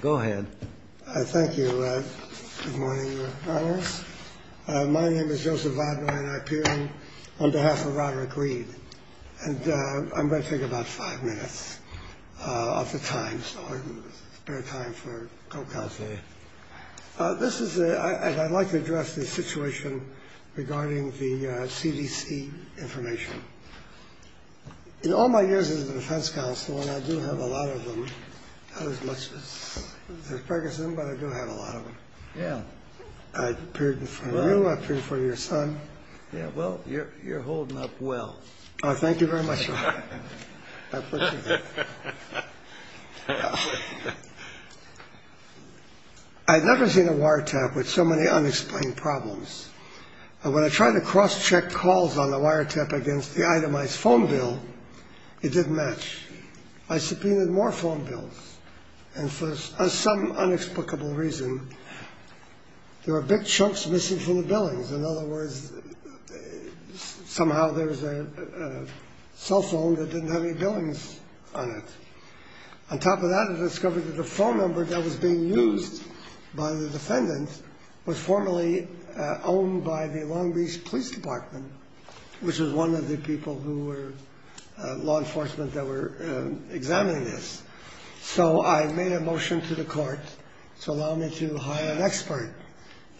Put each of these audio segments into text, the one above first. Go ahead. Thank you. Good morning. My name is Joseph on behalf of Roderick Reed, and I'm going to take about five minutes of the time for this is I'd like to address the situation regarding the CDC information. In all my years as a defense counsel, and I do have a lot of them, not as much as Ferguson, but I do have a lot of them. Yeah, I appeared in front of you, I appeared in front of your son. Yeah, well, you're you're holding up well. Thank you very much. I've never seen a wiretap with so many unexplained problems. And when I tried to cross check calls on the wiretap against the itemized phone bill, it didn't match. I subpoenaed more phone bills. And for some inexplicable reason, there were big chunks missing from the billings. In other words, somehow there was a cell phone that didn't have any billings on it. On top of that, I discovered that the phone number that was being used by the defendant was formerly owned by the Long Beach Police Department, which is one of the people who were law enforcement that were examining this. So I made a motion to the court to allow me to hire an expert.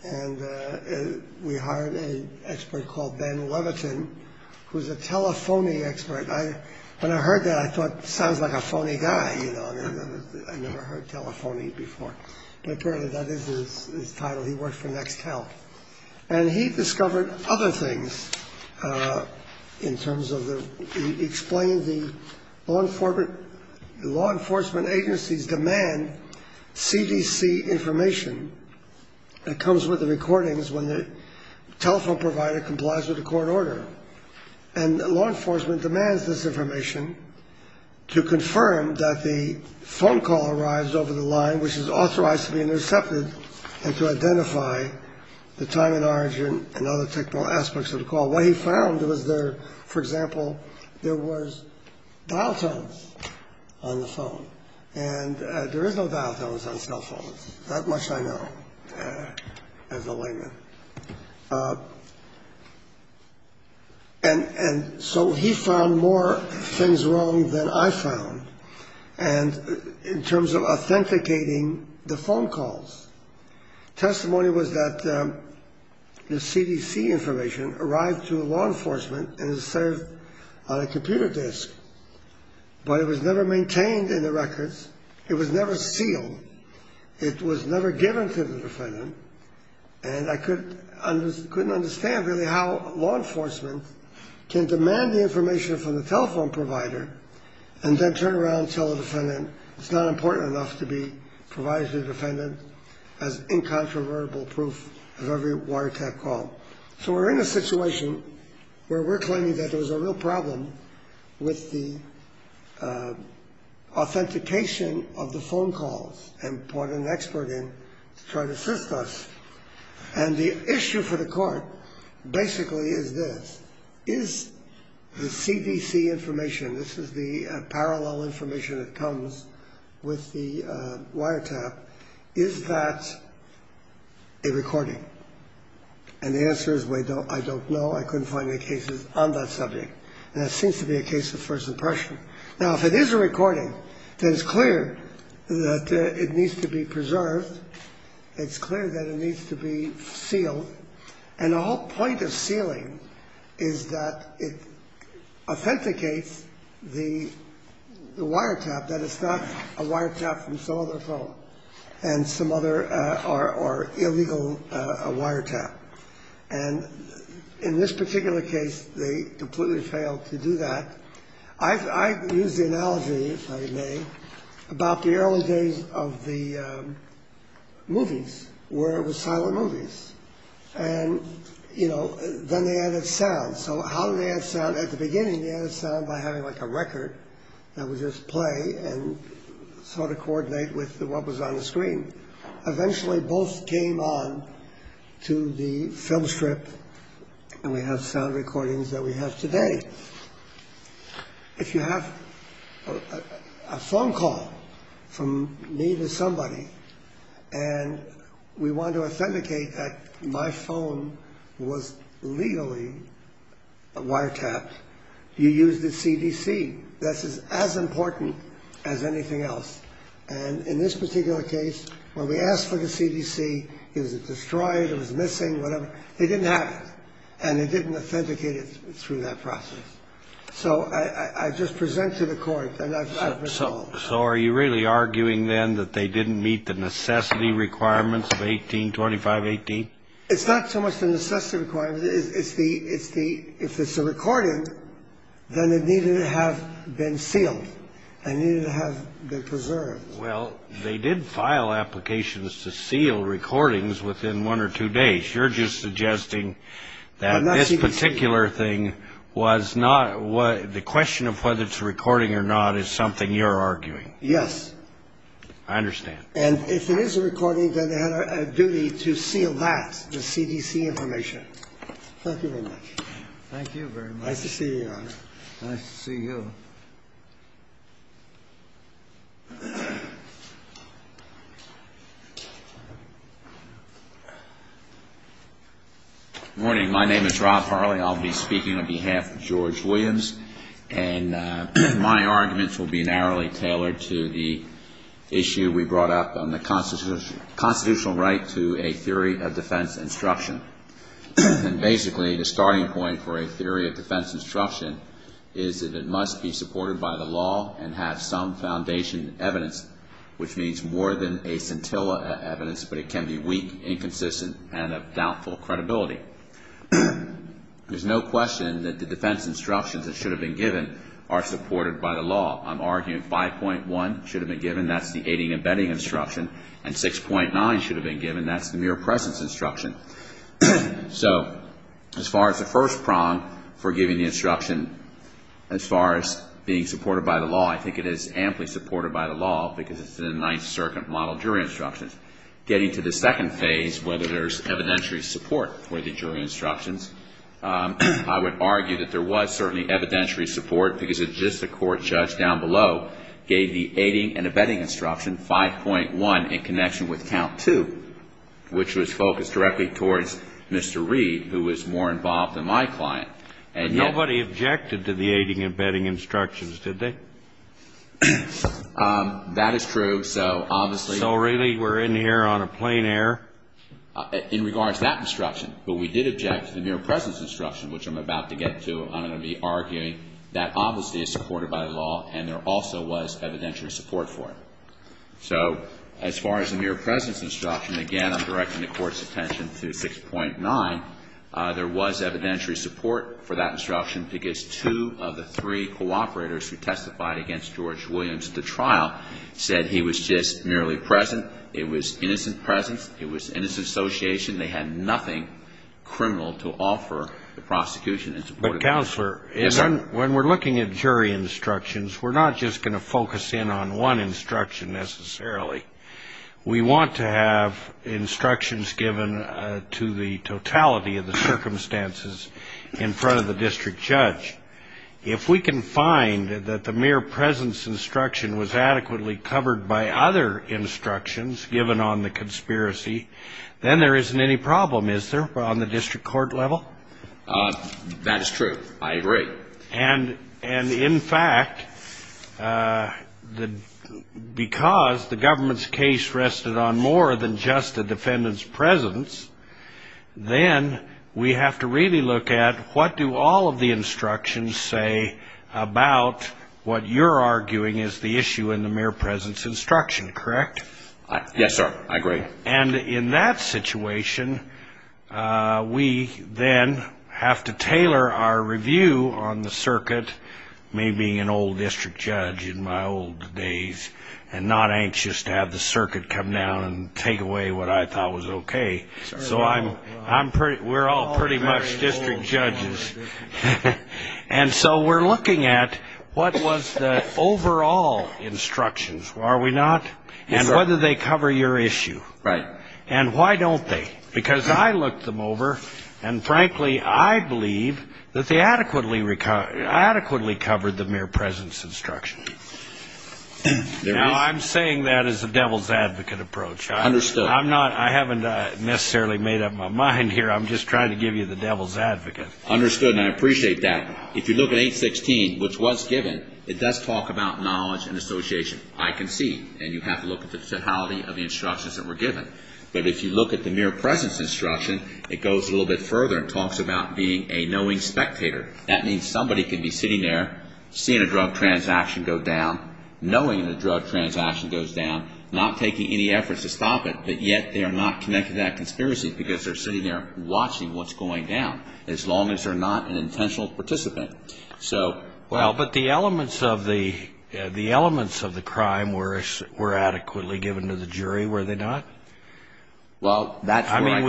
And we hired an expert called Ben Levitin, who is a telephony expert. When I heard that, I thought, sounds like a phony guy. You know, I never heard telephony before. But apparently that is his title. He worked for Nextel. And he discovered other things in terms of explaining the law enforcement agencies demand CDC information that comes with the recordings when the telephone provider complies with the court order. And law enforcement demands this information to confirm that the phone call arrives over the line, which is authorized to be intercepted, and to identify the time and origin and other technical aspects of the call. What he found was there, for example, there was dial tones on the phone. And there is no dial tones on cell phones. That much I know as a layman. And so he found more things wrong than I found in terms of authenticating the phone calls. Testimony was that the CDC information arrived to law enforcement and is served on a computer disk. But it was never maintained in the records. It was never sealed. It was never given to the defendant. And I couldn't understand really how law enforcement can demand the information from the telephone provider and then turn around and tell the defendant it's not important enough to be provided to the defendant as incontrovertible proof of every wiretap call. So we're in a situation where we're claiming that there was a real problem with the authentication of the phone calls and put an expert in to try to assist us. And the issue for the court basically is this. Is the CDC information, this is the parallel information that comes with the wiretap, is that a recording? And the answer is I don't know. I couldn't find any cases on that subject. And that seems to be a case of first impression. Now, if it is a recording, then it's clear that it needs to be preserved. And the whole point of sealing is that it authenticates the wiretap, that it's not a wiretap from some other phone and some other or illegal wiretap. And in this particular case, they completely failed to do that. I use the analogy, if I may, about the early days of the movies where it was silent movies. And, you know, then they added sound. So how do they add sound? At the beginning, they added sound by having like a record that would just play and sort of coordinate with what was on the screen. Eventually, both came on to the filmstrip and we have sound recordings that we have today. If you have a phone call from me to somebody and we want to authenticate that my phone was legally wiretapped, you use the CDC. This is as important as anything else. And in this particular case, when we asked for the CDC, it was destroyed, it was missing, whatever. It didn't happen. And it didn't authenticate it through that process. So I just present to the Court. And I've resolved. So are you really arguing then that they didn't meet the necessity requirements of 1825-18? It's not so much the necessity requirements. If it's a recording, then it needed to have been sealed. It needed to have been preserved. Well, they did file applications to seal recordings within one or two days. You're just suggesting that this particular thing was not – the question of whether it's a recording or not is something you're arguing. Yes. I understand. And if it is a recording, then they had a duty to seal that, the CDC information. Thank you very much. Thank you very much. Nice to see you, Your Honor. Nice to see you. Good morning. My name is Rob Farley. I'll be speaking on behalf of George Williams. And my arguments will be narrowly tailored to the issue we brought up on the constitutional right to a theory of defense instruction. And basically, the starting point for a theory of defense instruction is that it must be supported by the law and have some foundation evidence, which means more than a scintilla evidence, but it can be weak, inconsistent, and of doubtful credibility. There's no question that the defense instructions that should have been given are supported by the law. I'm arguing 5.1 should have been given. That's the aiding and abetting instruction. And 6.9 should have been given. That's the mere presence instruction. So as far as the first prong for giving the instruction, as far as being supported by the law, I think it is amply supported by the law because it's in the Ninth Circuit Model Jury Instructions. Getting to the second phase, whether there's evidentiary support for the jury instructions, I would argue that there was certainly evidentiary support because it's just the court judge down below gave the aiding and abetting instruction 5.1 in connection with count 2, which was focused directly towards Mr. Reed, who was more involved than my client. But nobody objected to the aiding and abetting instructions, did they? That is true. So really we're in here on a plain air? In regards to that instruction, but we did object to the mere presence instruction, which I'm about to get to. I'm going to be arguing that obviously is supported by the law, and there also was evidentiary support for it. So as far as the mere presence instruction, again, I'm directing the Court's attention to 6.9. There was evidentiary support for that instruction because two of the three cooperators who testified against George Williams at the trial said he was just merely present. It was innocent presence. It was innocent association. They had nothing criminal to offer the prosecution. But, Counselor, when we're looking at jury instructions, we're not just going to focus in on one instruction necessarily. We want to have instructions given to the totality of the circumstances in front of the district judge. If we can find that the mere presence instruction was adequately covered by other instructions given on the conspiracy, then there isn't any problem, is there, on the district court level? That is true. I agree. And, in fact, because the government's case rested on more than just the defendant's presence, then we have to really look at what do all of the instructions say about what you're arguing is the issue in the mere presence instruction, correct? Yes, sir, I agree. And in that situation, we then have to tailor our review on the circuit, me being an old district judge in my old days and not anxious to have the circuit come down and take away what I thought was okay. So we're all pretty much district judges. And so we're looking at what was the overall instructions, are we not, and whether they cover your issue. Right. And why don't they? Because I looked them over, and, frankly, I believe that they adequately covered the mere presence instruction. Now, I'm saying that as a devil's advocate approach. Understood. I haven't necessarily made up my mind here. I'm just trying to give you the devil's advocate. Understood, and I appreciate that. If you look at 816, which was given, it does talk about knowledge and association. I can see, and you have to look at the finality of the instructions that were given. But if you look at the mere presence instruction, it goes a little bit further and talks about being a knowing spectator. That means somebody can be sitting there, seeing a drug transaction go down, knowing the drug transaction goes down, not taking any efforts to stop it, but yet they are not connected to that conspiracy because they're sitting there watching what's going down, as long as they're not an intentional participant. Well, but the elements of the crime were adequately given to the jury, were they not? Well, that's where I... I mean,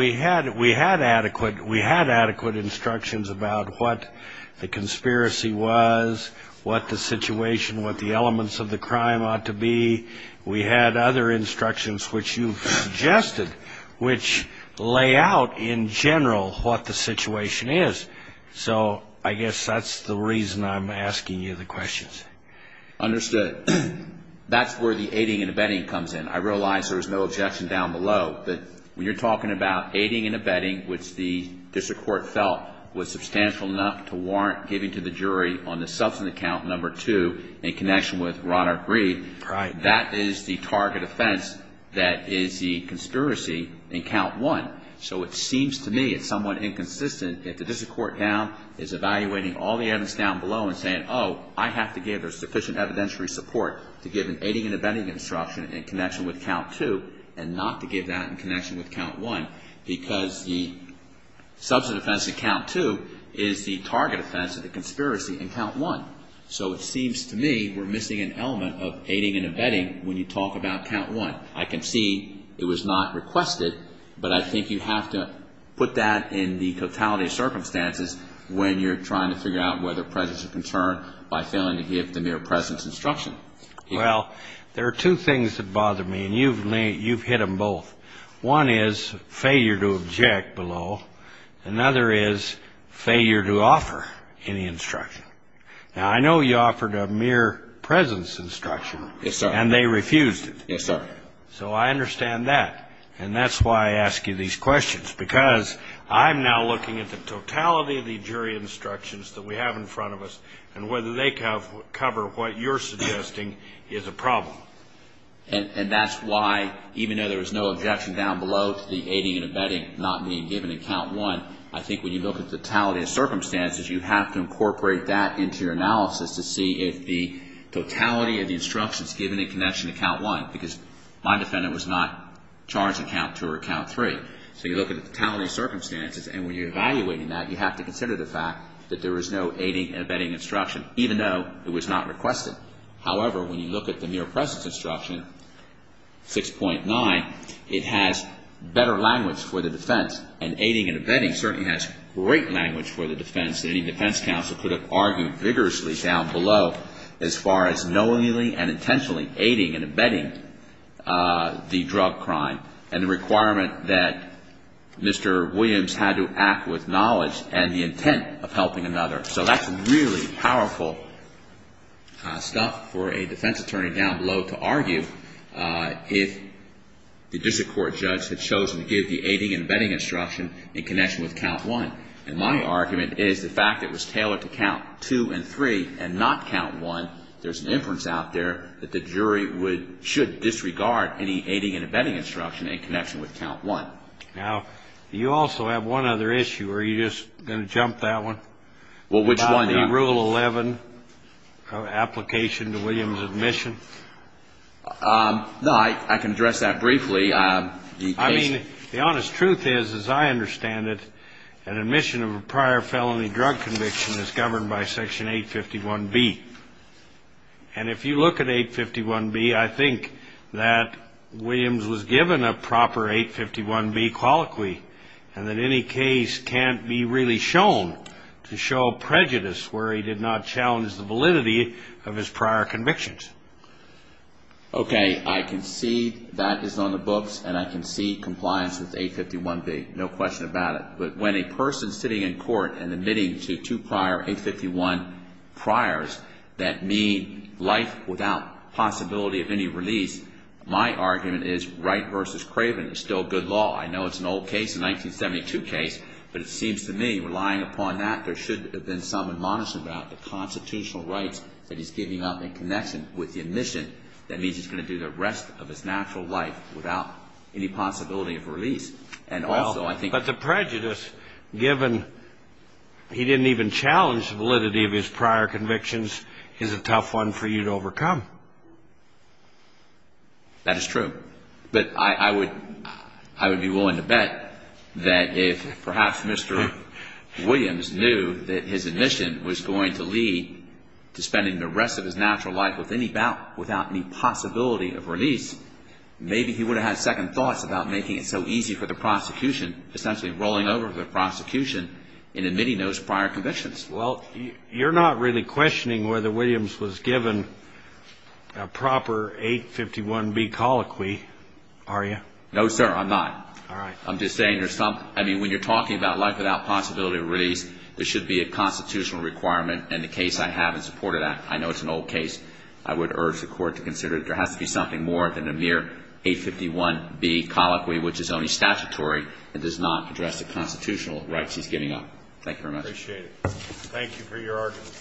we had adequate instructions about what the conspiracy was, what the situation, what the elements of the crime ought to be. We had other instructions, which you suggested, which lay out in general what the situation is. So I guess that's the reason I'm asking you the questions. Understood. That's where the aiding and abetting comes in. I realize there's no objection down below. But when you're talking about aiding and abetting, which the district court felt was substantial enough to warrant giving to the jury on the subsequent count, number two, in connection with Roderick Breed, that is the target offense that is the conspiracy in count one. So it seems to me it's somewhat inconsistent if the district court now is evaluating all the evidence down below and saying, oh, I have to give a sufficient evidentiary support to give an aiding and abetting instruction in connection with count two and not to give that in connection with count one because the substantive offense in count two is the target offense of the conspiracy in count one. So it seems to me we're missing an element of aiding and abetting when you talk about count one. I can see it was not requested, but I think you have to put that in the totality of circumstances when you're trying to figure out whether presence of concern by failing to give the mere presence instruction. Well, there are two things that bother me, and you've hit them both. One is failure to object below. Another is failure to offer any instruction. Now, I know you offered a mere presence instruction. Yes, sir. And they refused it. Yes, sir. So I understand that, and that's why I ask you these questions, because I'm now looking at the totality of the jury instructions that we have in front of us and whether they cover what you're suggesting is a problem. And that's why, even though there was no objection down below to the aiding and abetting not being given in count one, I think when you look at the totality of circumstances, you have to incorporate that into your analysis to see if the totality of the instructions given in connection to count one, because my defendant was not charged in count two or count three. So you look at the totality of circumstances, and when you're evaluating that, you have to consider the fact that there was no aiding and abetting instruction, even though it was not requested. However, when you look at the mere presence instruction, 6.9, it has better language for the defense, and aiding and abetting certainly has great language for the defense. Any defense counsel could have argued vigorously down below as far as knowingly and intentionally aiding and abetting the drug crime, and the requirement that Mr. Williams had to act with knowledge and the intent of helping another. So that's really powerful stuff for a defense attorney down below to argue if the district court judge had chosen to give the aiding and abetting instruction in connection with count one. And my argument is the fact that it was tailored to count two and three and not count one, there's an inference out there that the jury should disregard any aiding and abetting instruction in connection with count one. Now, you also have one other issue, or are you just going to jump that one? Well, which one? The Rule 11 application to Williams' admission. No, I can address that briefly. I mean, the honest truth is, as I understand it, an admission of a prior felony drug conviction is governed by Section 851B. And if you look at 851B, I think that Williams was given a proper 851B colloquy, and that any case can't be really shown to show prejudice where he did not challenge the validity of his prior convictions. Okay, I can see that is on the books, and I can see compliance with 851B. No question about it. But when a person's sitting in court and admitting to two prior 851 priors that mean life without possibility of any release, my argument is Wright v. Craven is still good law. I know it's an old case, a 1972 case, but it seems to me, relying upon that, there should have been some admonition about the constitutional rights that he's giving up in connection with the admission that means he's going to do the rest of his natural life without any possibility of release. Well, but the prejudice, given he didn't even challenge the validity of his prior convictions, is a tough one for you to overcome. That is true. But I would be willing to bet that if perhaps Mr. Williams knew that his admission was going to lead to spending the rest of his natural life without any possibility of release, maybe he would have had second thoughts about making it so easy for the prosecution, essentially rolling over the prosecution and admitting those prior convictions. Well, you're not really questioning whether Williams was given a proper 851B colloquy, are you? No, sir, I'm not. All right. I'm just saying there's some – I mean, when you're talking about life without possibility of release, there should be a constitutional requirement, and the case I have in support of that. I know it's an old case. I would urge the Court to consider that there has to be something more than a mere 851B colloquy, which is only statutory and does not address the constitutional rights he's giving up. Thank you very much. I appreciate it. Thank you for your argument.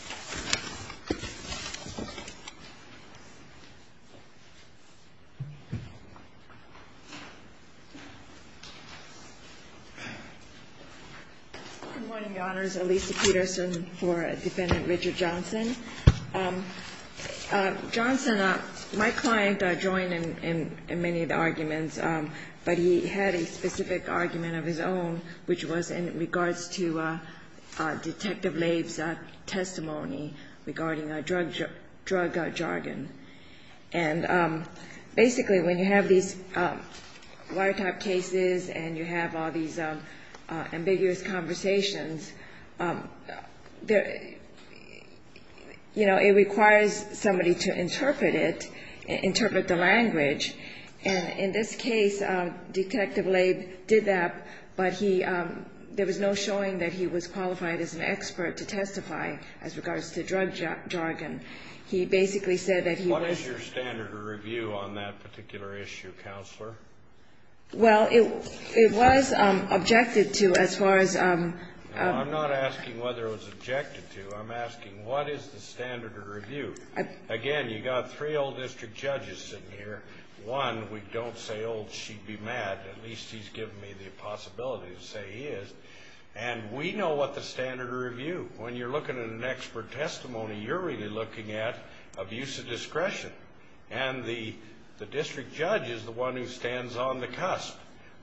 Good morning, Your Honors. Elisa Peterson for Defendant Richard Johnson. Johnson, my client, joined in many of the arguments, but he had a specific argument of his own, which was in regards to Detective Laib's testimony regarding drug jargon. And basically, when you have these wiretap cases and you have all these ambiguous conversations, you know, it requires somebody to interpret it, interpret the language. And in this case, Detective Laib did that, but he – there was no showing that he was qualified as an expert to testify as regards to drug jargon. He basically said that he was – What is your standard of review on that particular issue, Counselor? Well, it was objected to as far as – No, I'm not asking whether it was objected to. I'm asking what is the standard of review? Again, you've got three old district judges sitting here. One, we don't say, oh, she'd be mad. At least he's given me the possibility to say he is. And we know what the standard of review – when you're looking at an expert testimony, you're really looking at abuse of discretion. And the district judge is the one who stands on the cusp.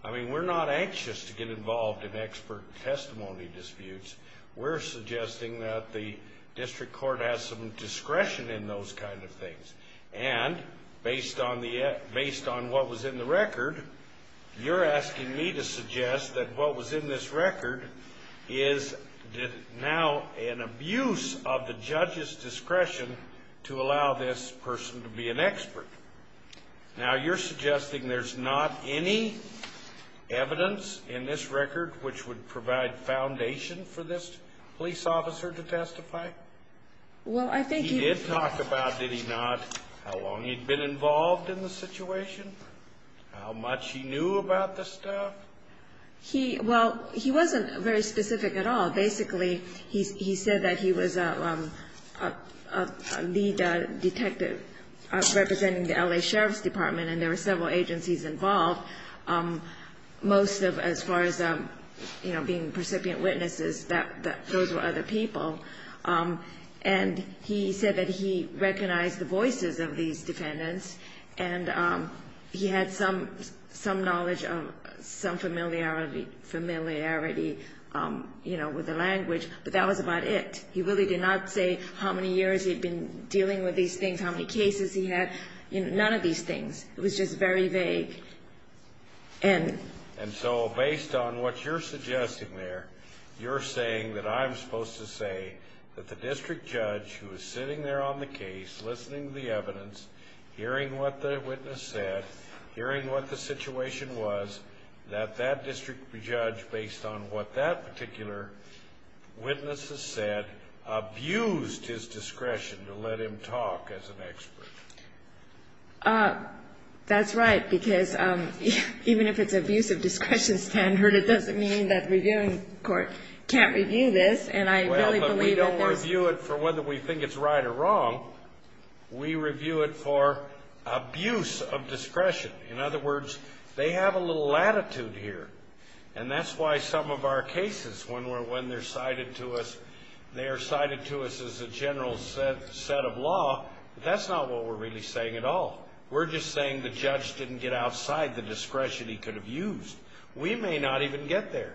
I mean, we're not anxious to get involved in expert testimony disputes. We're suggesting that the district court has some discretion in those kind of things. And based on the – based on what was in the record, you're asking me to suggest that what was in this record is now an abuse of the judge's discretion to allow this person to be an expert. Now, you're suggesting there's not any evidence in this record which would provide foundation for this police officer to testify? Well, I think he – He did talk about, did he not, how long he'd been involved in the situation, how much he knew about the stuff? He – well, he wasn't very specific at all. Basically, he said that he was a lead detective representing the L.A. Sheriff's Department, and there were several agencies involved. Most of – as far as, you know, being recipient witnesses, those were other people. And he said that he recognized the voices of these defendants and he had some knowledge of some familiarity, you know, with the language. But that was about it. He really did not say how many years he'd been dealing with these things, how many cases he had, you know, none of these things. It was just very vague. And so based on what you're suggesting there, you're saying that I'm supposed to say that the district judge, who was sitting there on the case, listening to the evidence, hearing what the witness said, hearing what the situation was, abused his discretion to let him talk as an expert? That's right, because even if it's abuse of discretion standard, it doesn't mean that the reviewing court can't review this. And I really believe that this – Well, but we don't review it for whether we think it's right or wrong. We review it for abuse of discretion. In other words, they have a little latitude here. And that's why some of our cases, when they're cited to us, they are cited to us as a general set of law, but that's not what we're really saying at all. We're just saying the judge didn't get outside the discretion he could have used. We may not even get there.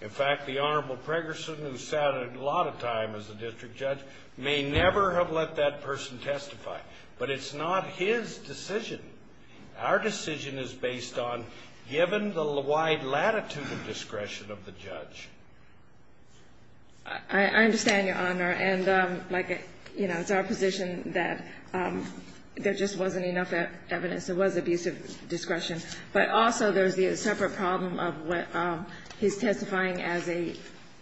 In fact, the Honorable Pregerson, who sat a lot of time as a district judge, may never have let that person testify. But it's not his decision. Our decision is based on given the wide latitude of discretion of the judge. I understand, Your Honor. And, like, you know, it's our position that there just wasn't enough evidence. It was abuse of discretion. But also there's the separate problem of what he's testifying as a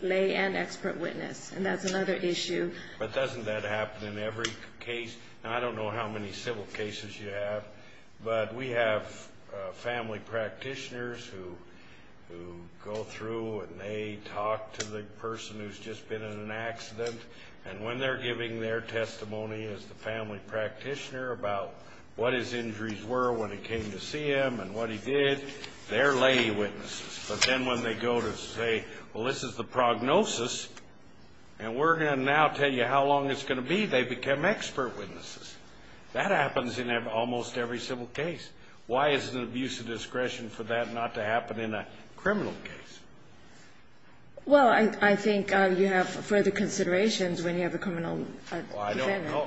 lay and expert witness, and that's another issue. But doesn't that happen in every case? I don't know how many civil cases you have, but we have family practitioners who go through and they talk to the person who's just been in an accident, and when they're giving their testimony as the family practitioner about what his injuries were when he came to see him and what he did, they're lay witnesses. But then when they go to say, well, this is the prognosis, and we're going to now tell you how long it's going to be, they become expert witnesses. That happens in almost every civil case. Why is it abuse of discretion for that not to happen in a criminal case? Well, I think you have further considerations when you have a criminal defendant. Well, I don't know.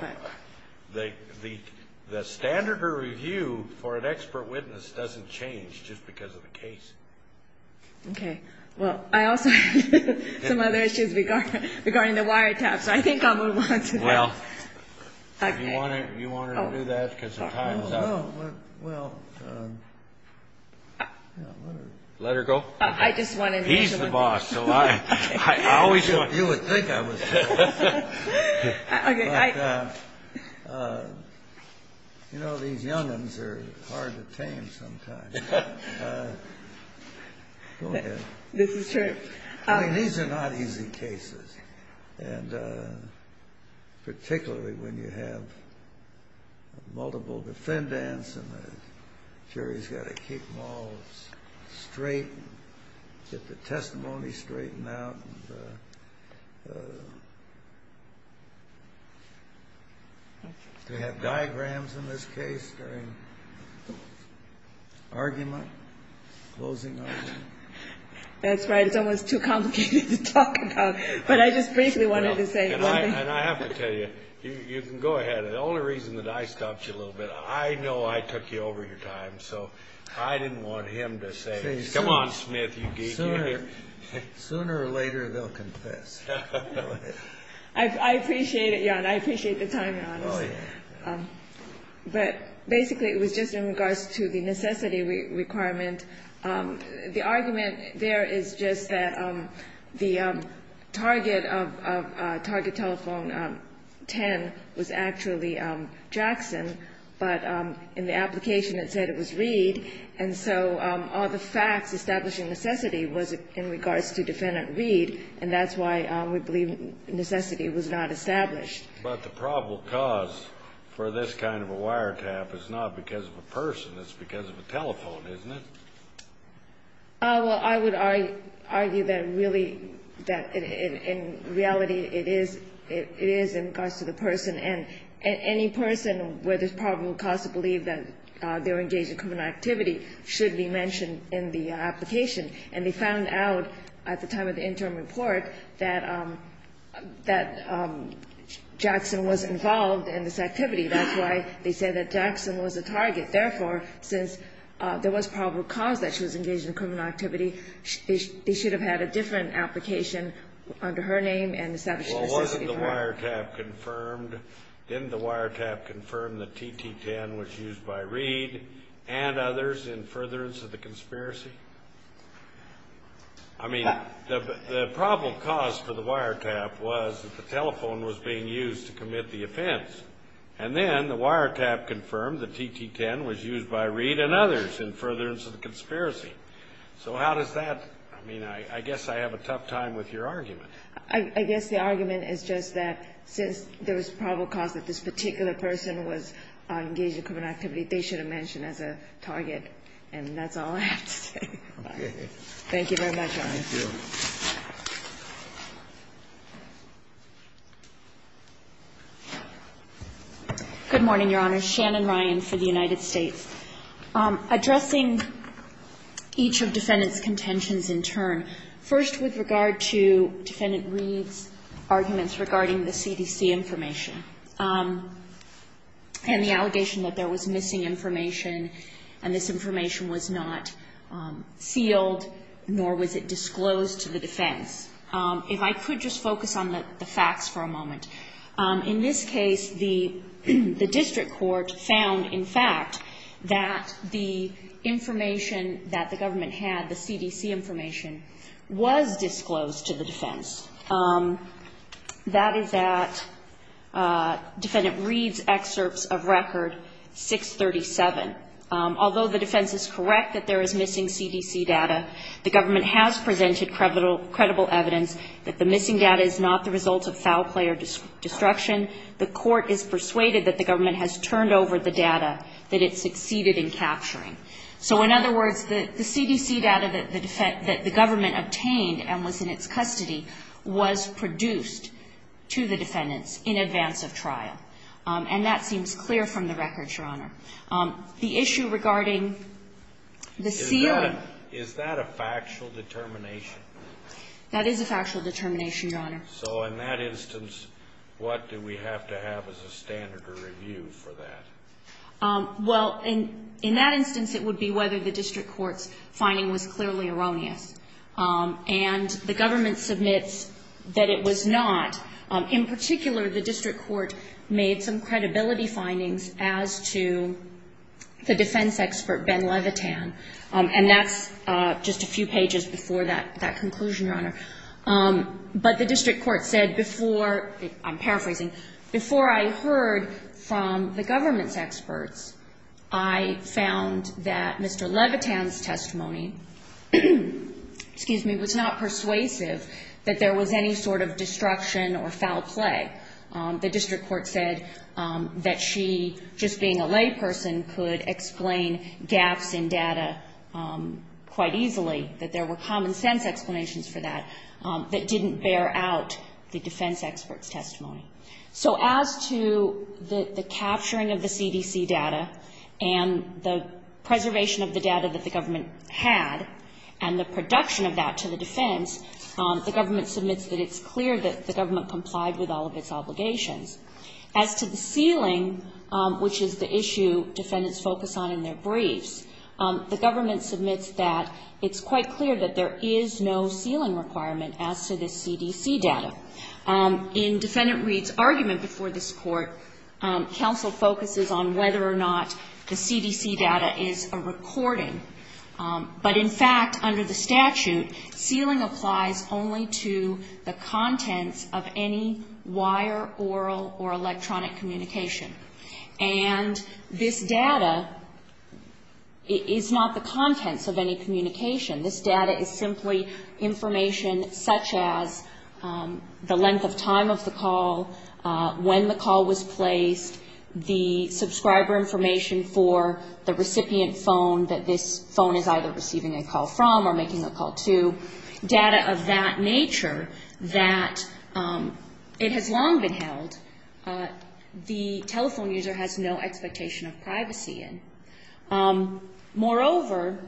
The standard of review for an expert witness doesn't change just because of the case. Okay. Well, I also have some other issues regarding the wiretaps, so I think I'll move on to that. Well, do you want her to do that because the time is up? Well, let her go. He's the boss, so I always thought you would think I was the boss. Okay. But, you know, these young'uns are hard to tame sometimes. Go ahead. This is true. I mean, these are not easy cases, and particularly when you have multiple defendants and the jury's got to keep them all straight and get the testimony straightened out. Do we have diagrams in this case during argument, closing argument? That's right. It's almost too complicated to talk about, but I just briefly wanted to say. And I have to tell you, you can go ahead. The only reason that I stopped you a little bit, I know I took you over your time, so I didn't want him to say, come on, Smith, you geek. Sooner or later, they'll confess. I appreciate it, Your Honor. I appreciate the time, Your Honor. Oh, yeah. But basically, it was just in regards to the necessity requirement. The argument there is just that the target of Target Telephone 10 was actually Jackson, but in the application it said it was Reed. And so all the facts establishing necessity was in regards to Defendant Reed, and that's why we believe necessity was not established. But the probable cause for this kind of a wiretap is not because of a person. It's because of a telephone, isn't it? Well, I would argue that really that in reality it is in regards to the person. And any person where there's probable cause to believe that they're engaged in criminal activity should be mentioned in the application. And they found out at the time of the interim report that Jackson was involved in this activity. That's why they said that Jackson was a target. Therefore, since there was probable cause that she was engaged in criminal activity, they should have had a different application under her name and established necessity. Well, wasn't the wiretap confirmed? Didn't the wiretap confirm that TT10 was used by Reed and others in furtherance of the conspiracy? I mean, the probable cause for the wiretap was that the telephone was being used to commit the offense. And then the wiretap confirmed that TT10 was used by Reed and others in furtherance of the conspiracy. So how does that – I mean, I guess I have a tough time with your argument. I guess the argument is just that since there was probable cause that this particular person was engaged in criminal activity, they should have mentioned as a target. And that's all I have to say. Okay. Thank you very much, Your Honor. Thank you. Good morning, Your Honor. Shannon Ryan for the United States. Addressing each of Defendant's contentions in turn. First, with regard to Defendant Reed's arguments regarding the CDC information and the allegation that there was missing information and this information was not sealed nor was it disclosed to the defense, if I could just focus on the facts for a moment. In this case, the district court found, in fact, that the information that the government had, the CDC information, was disclosed to the defense. That is at Defendant Reed's excerpts of record 637. Although the defense is correct that there is missing CDC data, the government has presented credible evidence that the missing data is not the result of foul play or destruction. The court is persuaded that the government has turned over the data that it succeeded in capturing. So in other words, the CDC data that the government obtained and was in its custody was produced to the defendants in advance of trial. And that seems clear from the record, Your Honor. The issue regarding the sealing. Is that a factual determination? That is a factual determination, Your Honor. So in that instance, what do we have to have as a standard of review for that? Well, in that instance, it would be whether the district court's finding was clearly erroneous. And the government submits that it was not. In particular, the district court made some credibility findings as to the defense expert, Ben Levitan. And that's just a few pages before that conclusion, Your Honor. But the district court said before, I'm paraphrasing, before I heard from the government's testimony, excuse me, was not persuasive that there was any sort of destruction or foul play. The district court said that she, just being a layperson, could explain gaps in data quite easily, that there were common sense explanations for that that didn't bear out the defense expert's testimony. So as to the capturing of the CDC data and the preservation of the data that the district court had and the production of that to the defense, the government submits that it's clear that the government complied with all of its obligations. As to the sealing, which is the issue defendants focus on in their briefs, the government submits that it's quite clear that there is no sealing requirement as to the CDC data. In Defendant Reed's argument before this Court, counsel focuses on whether or not the statute, sealing applies only to the contents of any wire, oral, or electronic communication. And this data is not the contents of any communication. This data is simply information such as the length of time of the call, when the call was placed, the subscriber information for the receiving a call from or making a call to, data of that nature that it has long been held. The telephone user has no expectation of privacy in. Moreover,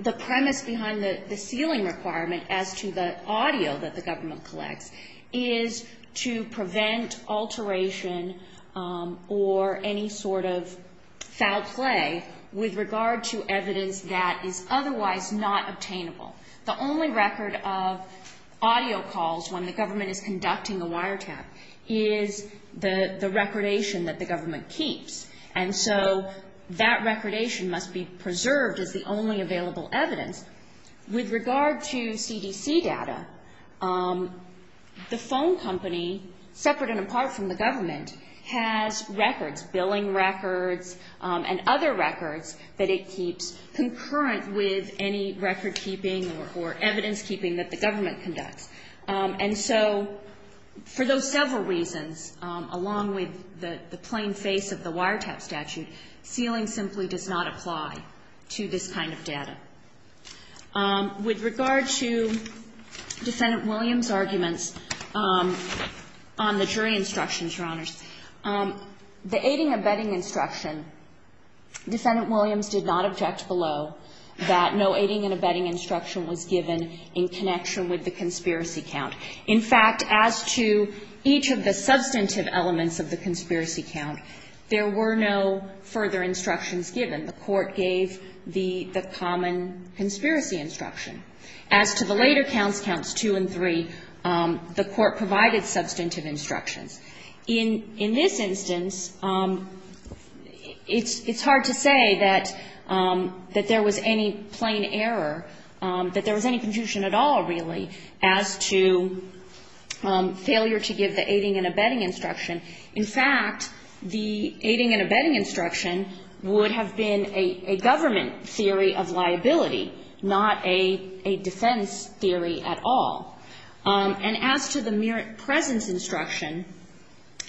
the premise behind the sealing requirement as to the audio that the government collects is to prevent alteration or any sort of foul play with regard to evidence that is otherwise not obtainable. The only record of audio calls when the government is conducting a wiretap is the recordation that the government keeps. And so that recordation must be preserved as the only available evidence. With regard to CDC data, the phone company, separate and apart from the government, has records, billing records, and other records that it keeps concurrent with any recordkeeping or evidencekeeping that the government conducts. And so for those several reasons, along with the plain face of the wiretap statute, sealing simply does not apply to this kind of data. With regard to Defendant Williams' arguments on the jury instructions, Your Honors, the aiding and abetting instruction, Defendant Williams did not object below that no aiding and abetting instruction was given in connection with the conspiracy count. In fact, as to each of the substantive elements of the conspiracy count, there were no further instructions given. The Court gave the common conspiracy instruction. As to the later counts, counts 2 and 3, the Court provided substantive instructions. In this instance, it's hard to say that there was any plain error, that there was any confusion at all, really, as to failure to give the aiding and abetting instruction. In fact, the aiding and abetting instruction would have been a government theory of liability, not a defense theory at all. And as to the mere presence instruction,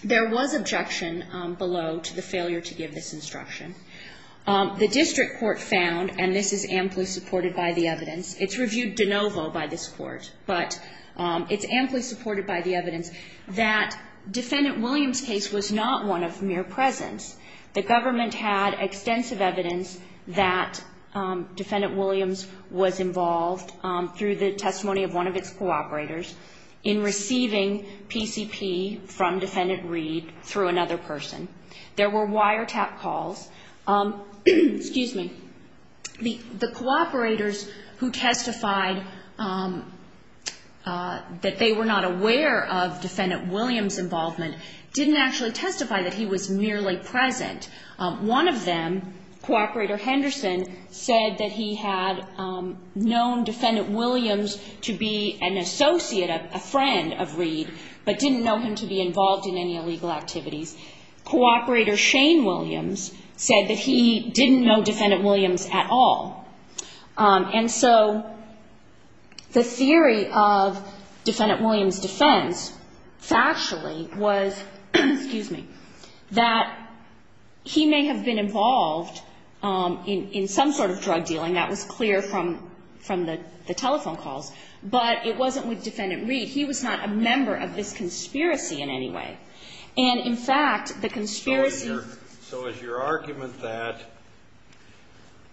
there was objection below to the failure to give this instruction. The district court found, and this is amply supported by the evidence, it's reviewed de novo by this court, but it's amply supported by the evidence, that Defendant Williams' case was not one of mere presence. The government had extensive evidence that Defendant Williams was involved through the testimony of one of its cooperators in receiving PCP from Defendant Reed through another person. There were wiretap calls. Excuse me. The cooperators who testified that they were not aware of Defendant Williams' involvement didn't actually testify that he was merely present. One of them, Cooperator Henderson, said that he had known Defendant Williams to be an associate, a friend of Reed, but didn't know him to be involved in any illegal activities. Cooperator Shane Williams said that he didn't know Defendant Williams at all. And so the theory of Defendant Williams' defense factually was, excuse me, that he may have been involved in some sort of drug dealing. That was clear from the telephone calls. But it wasn't with Defendant Reed. He was not a member of this conspiracy in any way. And, in fact, the conspiracy So is your argument that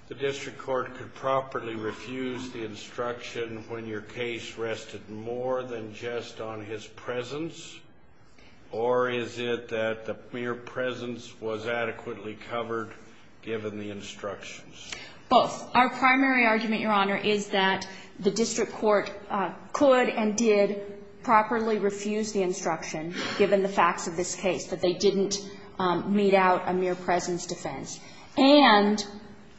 the district court could properly refuse the instruction when your case rested more than just on his presence, or is it that the mere presence was adequately covered given the instructions? Both. Our primary argument, Your Honor, is that the district court could and did properly refuse the instruction, given the facts of this case, that they didn't mete out a mere presence defense. And,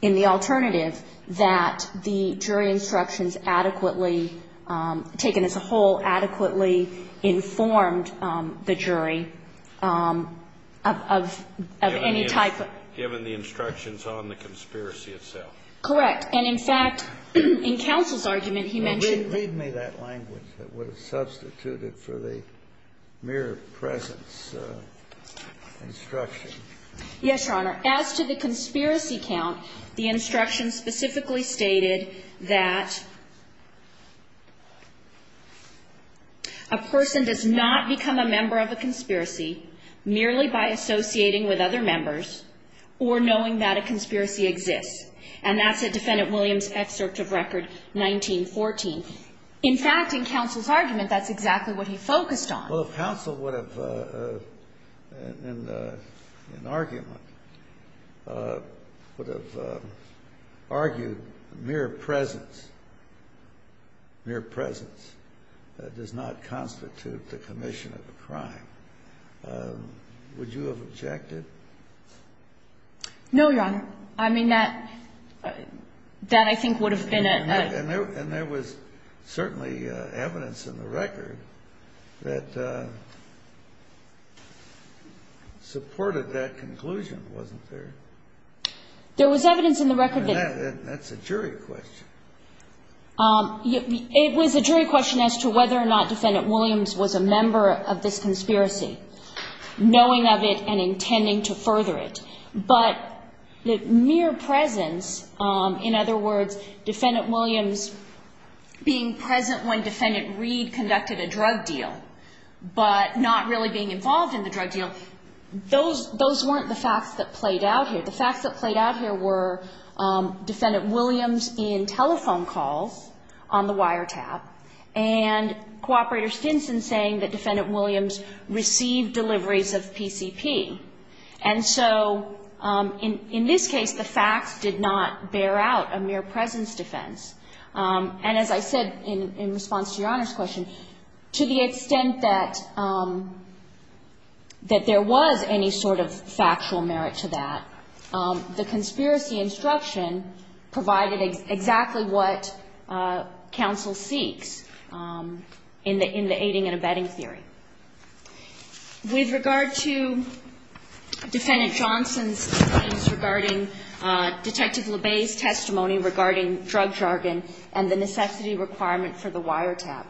in the alternative, that the jury instructions adequately, taken as a whole, adequately informed the jury of any type of given the instructions on the conspiracy itself. Correct. And, in fact, in counsel's argument, he mentioned Well, read me that language that would have substituted for the mere presence instruction. Yes, Your Honor. As to the conspiracy count, the instruction specifically stated that a person does not become a member of a conspiracy merely by associating with other members or knowing that a conspiracy exists. And that's a Defendant Williams excerpt of record 1914. In fact, in counsel's argument, that's exactly what he focused on. Well, if counsel would have, in argument, would have argued mere presence, mere presence does not constitute the commission of a crime, would you have objected to that? No, Your Honor. I mean, that, that I think would have been a And there was certainly evidence in the record that supported that conclusion, wasn't there? There was evidence in the record that And that's a jury question. It was a jury question as to whether or not Defendant Williams was a member of this But the mere presence, in other words, Defendant Williams being present when Defendant Reed conducted a drug deal, but not really being involved in the drug deal, those, those weren't the facts that played out here. The facts that played out here were Defendant Williams in telephone calls on the wiretap, and Cooperator Stinson saying that Defendant Williams received deliveries of PCP. And so in, in this case, the facts did not bear out a mere presence defense. And as I said in response to Your Honor's question, to the extent that, that there was any sort of factual merit to that, the conspiracy instruction provided exactly what counsel seeks in the, in the aiding and abetting theory. With regard to Defendant Johnson's claims regarding Detective LeBay's testimony regarding drug jargon and the necessity requirement for the wiretap.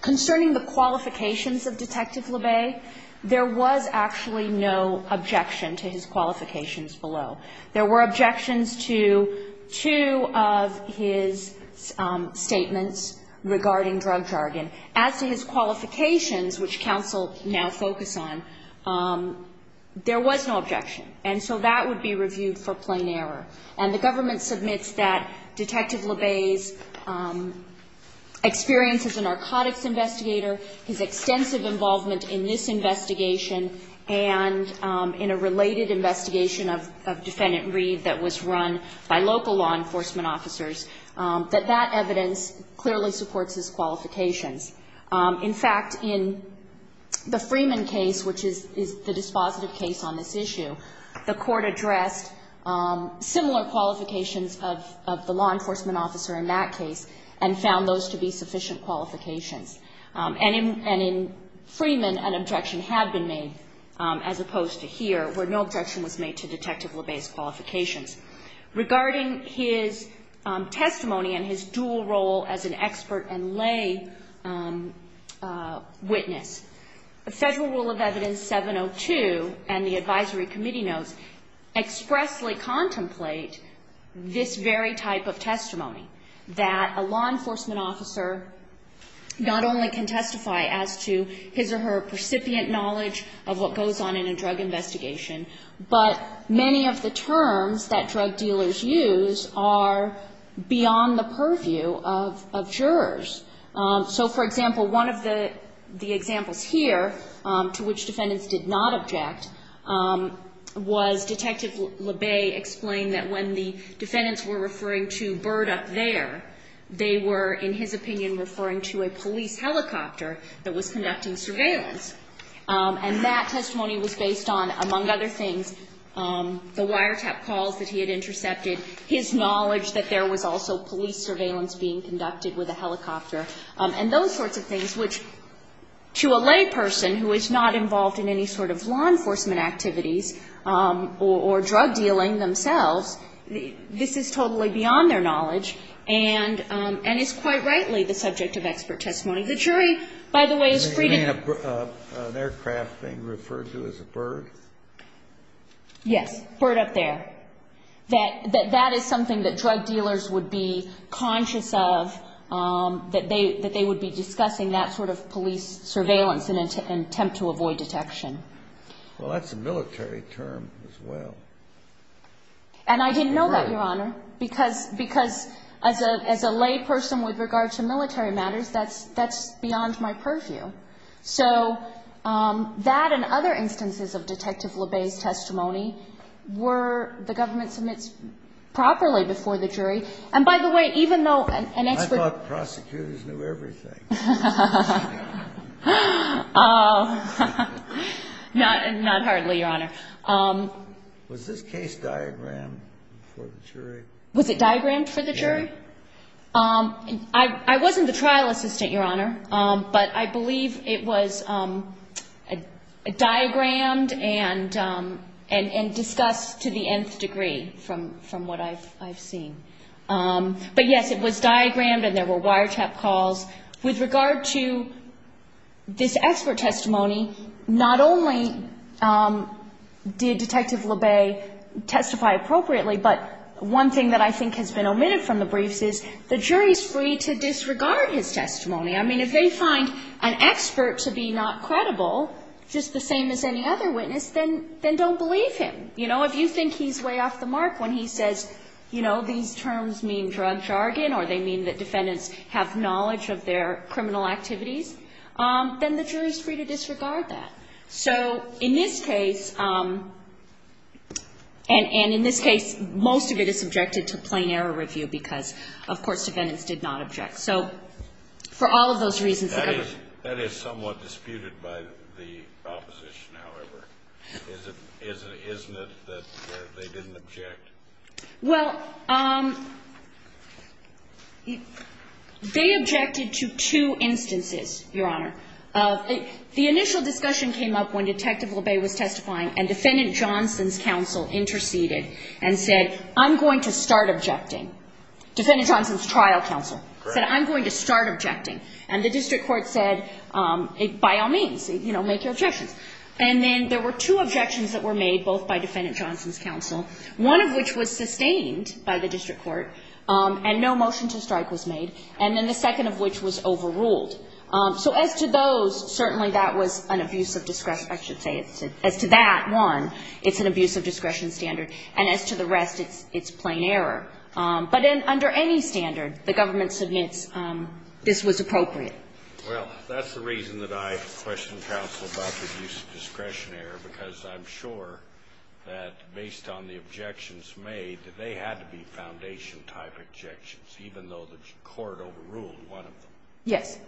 Concerning the qualifications of Detective LeBay, there was actually no objection to his qualifications below. There were objections to two of his statements regarding drug jargon. As to his qualifications, which counsel now focus on, there was no objection. And so that would be reviewed for plain error. And the government submits that Detective LeBay's experience as a narcotics investigator, his extensive involvement in this investigation, and in a related investigation of, of Defendant Reed that was run by local law enforcement officers, that that evidence clearly supports his qualifications. In fact, in the Freeman case, which is, is the dispositive case on this issue, the Court addressed similar qualifications of, of the law enforcement officer in that case and found those to be sufficient qualifications. And in, and in Freeman, an objection had been made, as opposed to here, where no objection was made to Detective LeBay's qualifications. Regarding his testimony and his dual role as an expert and lay witness, the Federal Rule of Evidence 702 and the advisory committee notes expressly contemplate this very type of testimony, that a law enforcement officer not only can testify as to his or her recipient knowledge of what goes on in a drug investigation, but many of the terms that drug dealers use are beyond the purview of, of jurors. So, for example, one of the, the examples here to which defendants did not object was Detective LeBay explained that when the defendants were referring to bird up there, they were, in his opinion, referring to a police helicopter that was conducting surveillance. And that testimony was based on, among other things, the wiretap calls that he had intercepted, his knowledge that there was also police surveillance being conducted with a helicopter, and those sorts of things which, to a lay person who is not involved in any sort of law enforcement activities or drug dealing themselves, this is totally beyond their knowledge and, and is quite rightly the subject of expert testimony. The jury, by the way, is free to... An aircraft being referred to as a bird? Yes. Bird up there. That, that, that is something that drug dealers would be conscious of, that they, that they would be discussing that sort of police surveillance in an attempt to avoid detection. Well, that's a military term as well. And I didn't know that, Your Honor, because, because as a, as a lay person with regard to military matters, that's, that's beyond my purview. So that and other instances of Detective LeBay's testimony were the government submits properly before the jury. And by the way, even though an expert... I thought prosecutors knew everything. Not, not hardly, Your Honor. Was this case diagrammed for the jury? Was it diagrammed for the jury? Yes. I, I wasn't the trial assistant, Your Honor. But I believe it was diagrammed and, and, and discussed to the nth degree from, from what I've, I've seen. But yes, it was diagrammed and there were wiretap calls. With regard to this expert testimony, not only did Detective LeBay testify appropriately, but one thing that I think has been omitted from the briefs is the jury's free to disregard his testimony. I mean, if they find an expert to be not credible, just the same as any other witness, then, then don't believe him. You know, if you think he's way off the mark when he says, you know, these terms mean drug jargon or they mean that defendants have knowledge of their criminal activities, then the jury's free to disregard that. So, in this case, and, and in this case, most of it is subjected to plain error review because, of course, defendants did not object. So, for all of those reasons, the government. That is somewhat disputed by the opposition, however. Isn't, isn't it that they didn't object? Well, they objected to two instances, Your Honor. The initial discussion came up when Detective LeBay was testifying and Defendant Johnson's counsel interceded and said, I'm going to start objecting. Defendant Johnson's trial counsel said, I'm going to start objecting. And the district court said, by all means, you know, make your objections. And then there were two objections that were made, both by Defendant Johnson's counsel, one of which was sustained by the district court and no motion to strike was made, and then the second of which was overruled. So, as to those, certainly that was an abuse of discretion. I should say, as to that one, it's an abuse of discretion standard. And as to the rest, it's plain error. But under any standard, the government submits this was appropriate. Well, that's the reason that I questioned counsel about the use of discretion error, because I'm sure that based on the objections made, that they had to be foundation-type objections, even though the court overruled one of them. Yes.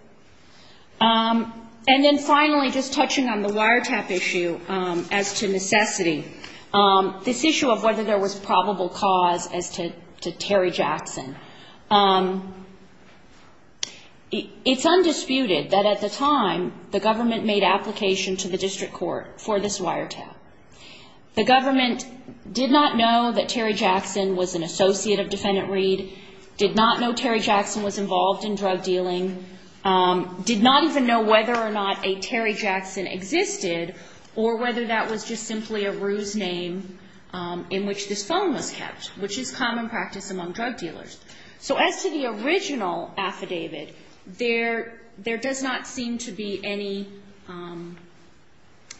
And then finally, just touching on the wiretap issue, as to necessity, this issue of whether there was probable cause as to Terry Jackson. It's undisputed that at the time, the government made application to the district court for this wiretap. The government did not know that Terry Jackson was an associate of Defendant Reed, did not know Terry Jackson was involved in drug dealing, did not even know whether or not a Terry Jackson existed, or whether that was just simply a ruse name in which this phone was kept, which is common practice among drug dealers. So as to the original affidavit, there does not seem to be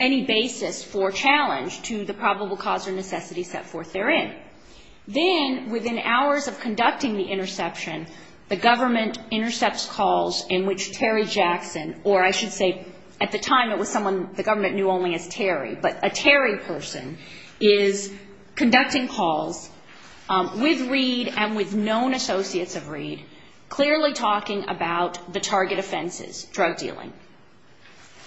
any basis for challenge to the probable cause or necessity set forth therein. Then, within hours of conducting the interception, the government intercepts calls in which Terry Jackson, or I should say at the time it was someone the government knew only as Terry, but a Terry person, is conducting calls with Reed and with known associates of Reed, clearly talking about the target offenses, drug dealing.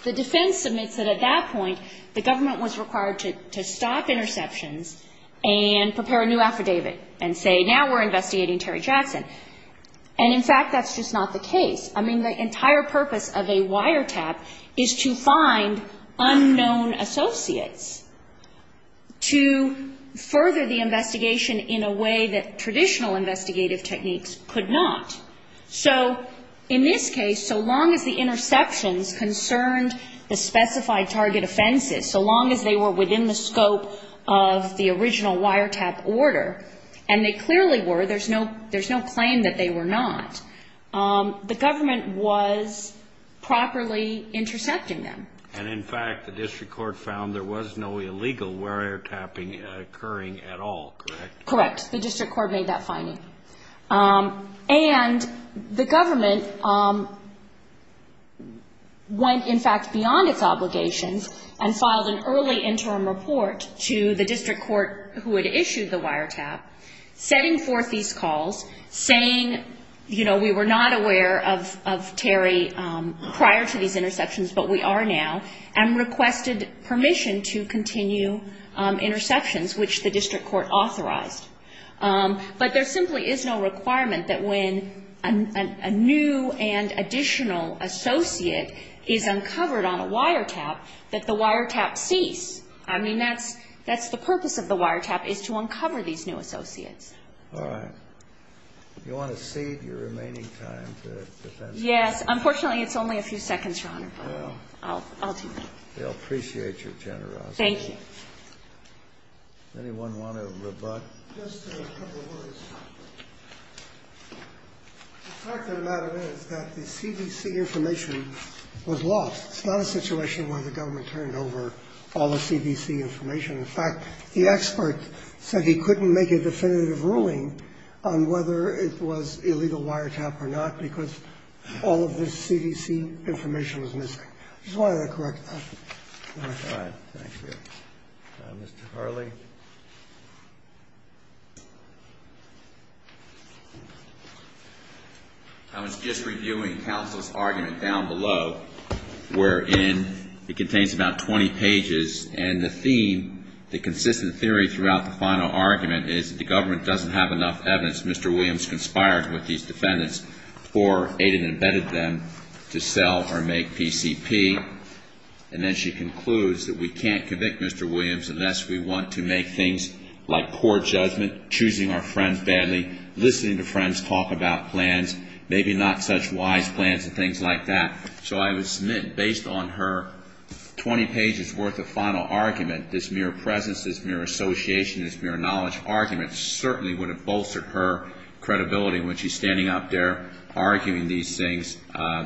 The defense admits that at that point, the government was required to stop interceptions and prepare a new affidavit and say, now we're investigating Terry Jackson. And in fact, that's just not the case. I mean, the entire purpose of a wiretap is to find unknown associates to further the investigation in a way that traditional investigative techniques could not. So in this case, so long as the interceptions concerned the specified target offenses, so long as they were within the scope of the original wiretap order, and they clearly were, there's no claim that they were not, the government was properly intercepting them. And in fact, the district court found there was no illegal wiretapping occurring at all, correct? Correct. The district court made that finding. And the government went, in fact, beyond its obligations and filed an early interim report to the district court who had issued the wiretap, setting forth these calls, saying, you know, we were not aware of Terry prior to these interceptions, but we are now, and requested permission to continue interceptions, which the district court authorized. But there simply is no requirement that when a new and additional associate is uncovered on a wiretap that the wiretap cease. I mean, that's the purpose of the wiretap, is to uncover these new associates. All right. You want to cede your remaining time to defense counsel? Unfortunately, it's only a few seconds, Your Honor, but I'll do that. Well, they'll appreciate your generosity. Thank you. Does anyone want to rebut? Just a couple of words. The fact of the matter is that the CDC information was lost. It's not a situation where the government turned over all the CDC information. In fact, the expert said he couldn't make a definitive ruling on whether it was illegal wiretap or not because all of this CDC information was missing. I just wanted to correct that. All right. Thank you. Mr. Harley? I was just reviewing counsel's argument down below, wherein it contains about 20 pages, and the theme, the consistent theory throughout the final argument is that the government doesn't have enough evidence Mr. Williams conspired with these defendants for, aided and abetted them, to sell or make PCP. And then she concludes that we can't convict Mr. Williams unless we want to make things like poor judgment, choosing our friends badly, listening to friends talk about plans, maybe not such wise plans and things like that. So I would submit, based on her 20 pages worth of final argument, this mere presence, this mere association, this mere knowledge argument certainly would have bolstered her credibility when she's standing up there arguing these things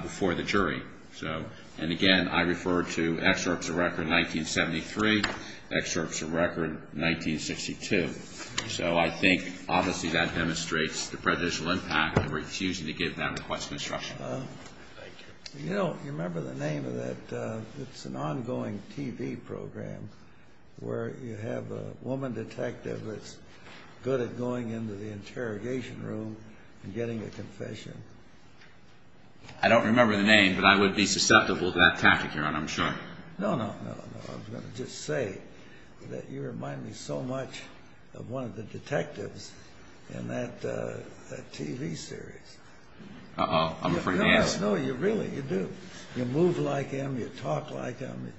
before the jury. So, and again, I refer to excerpts of record 1973, excerpts of record 1962. So I think obviously that demonstrates the presidential impact of refusing to give that request of instruction. Thank you. You know, you remember the name of that, it's an ongoing TV program where you have a woman detective that's good at going into the interrogation room and getting a confession. I don't remember the name, but I would be susceptible to that tactic, Your Honor, I'm sure. No, no, no, no. I was going to just say that you remind me so much of one of the detectives in that TV series. Uh-oh. I'm afraid to ask. No, you really, you do. You move like him. You talk like him.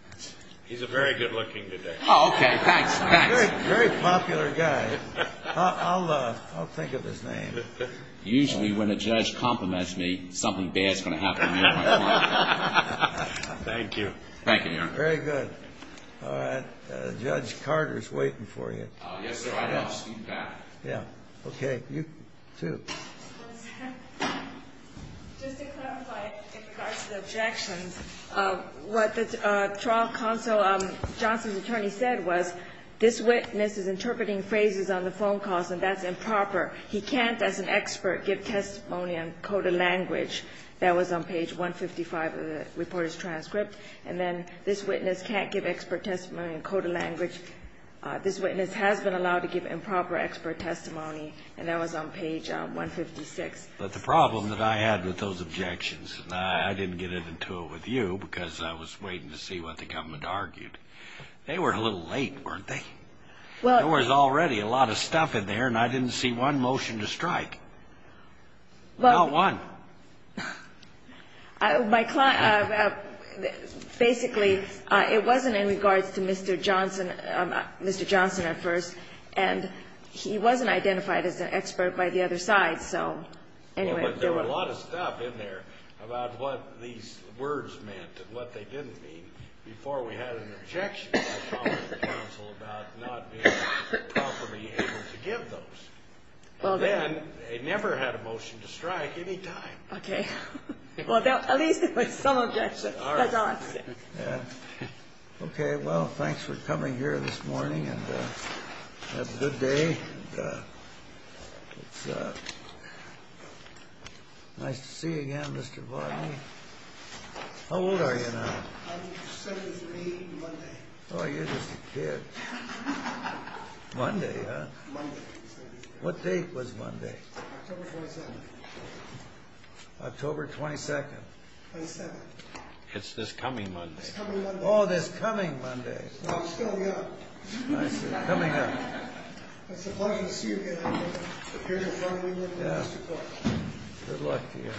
He's a very good looking detective. Oh, okay. Thanks. Thanks. Very popular guy. I'll think of his name. Usually when a judge compliments me, something bad's going to happen to me. Thank you. Thank you, Your Honor. Very good. All right. Judge Carter's waiting for you. Yes, sir. I will. I'll speak back. Yeah. Okay. You, too. Just to clarify in regards to the objections, what the trial counsel, Johnson's attorney, said was this witness is interpreting phrases on the phone calls, and that's improper. He can't, as an expert, give testimony in coded language. That was on page 155 of the reporter's transcript. And then this witness can't give expert testimony in coded language. This witness has been allowed to give improper expert testimony, and that was on page 156. But the problem that I had with those objections, and I didn't get into it with you because I was waiting to see what the government argued, they were a little late, weren't they? There was already a lot of stuff in there, and I didn't see one motion to strike. Not one. Basically, it wasn't in regards to Mr. Johnson, Mr. Johnson at first, and he wasn't identified as an expert by the other side, so anyway. But there was a lot of stuff in there about what these words meant and what they didn't mean before we had an objection by the top of the council about not being properly able to give those. Then, they never had a motion to strike any time. Okay. Well, at least it was some objection by Johnson. Yeah. Okay, well, thanks for coming here this morning, and have a good day. It's nice to see you again, Mr. Varney. How old are you now? I'm 78, Monday. Oh, you're just a kid. Monday, huh? Monday. What date was Monday? October 27th. October 22nd. 27th. It's this coming Monday. This coming Monday. Oh, this coming Monday. I'm still young. I see. Coming up. It's a pleasure to see you again. It's a pleasure to meet you, Mr. Clark. Good luck to you. Thank you.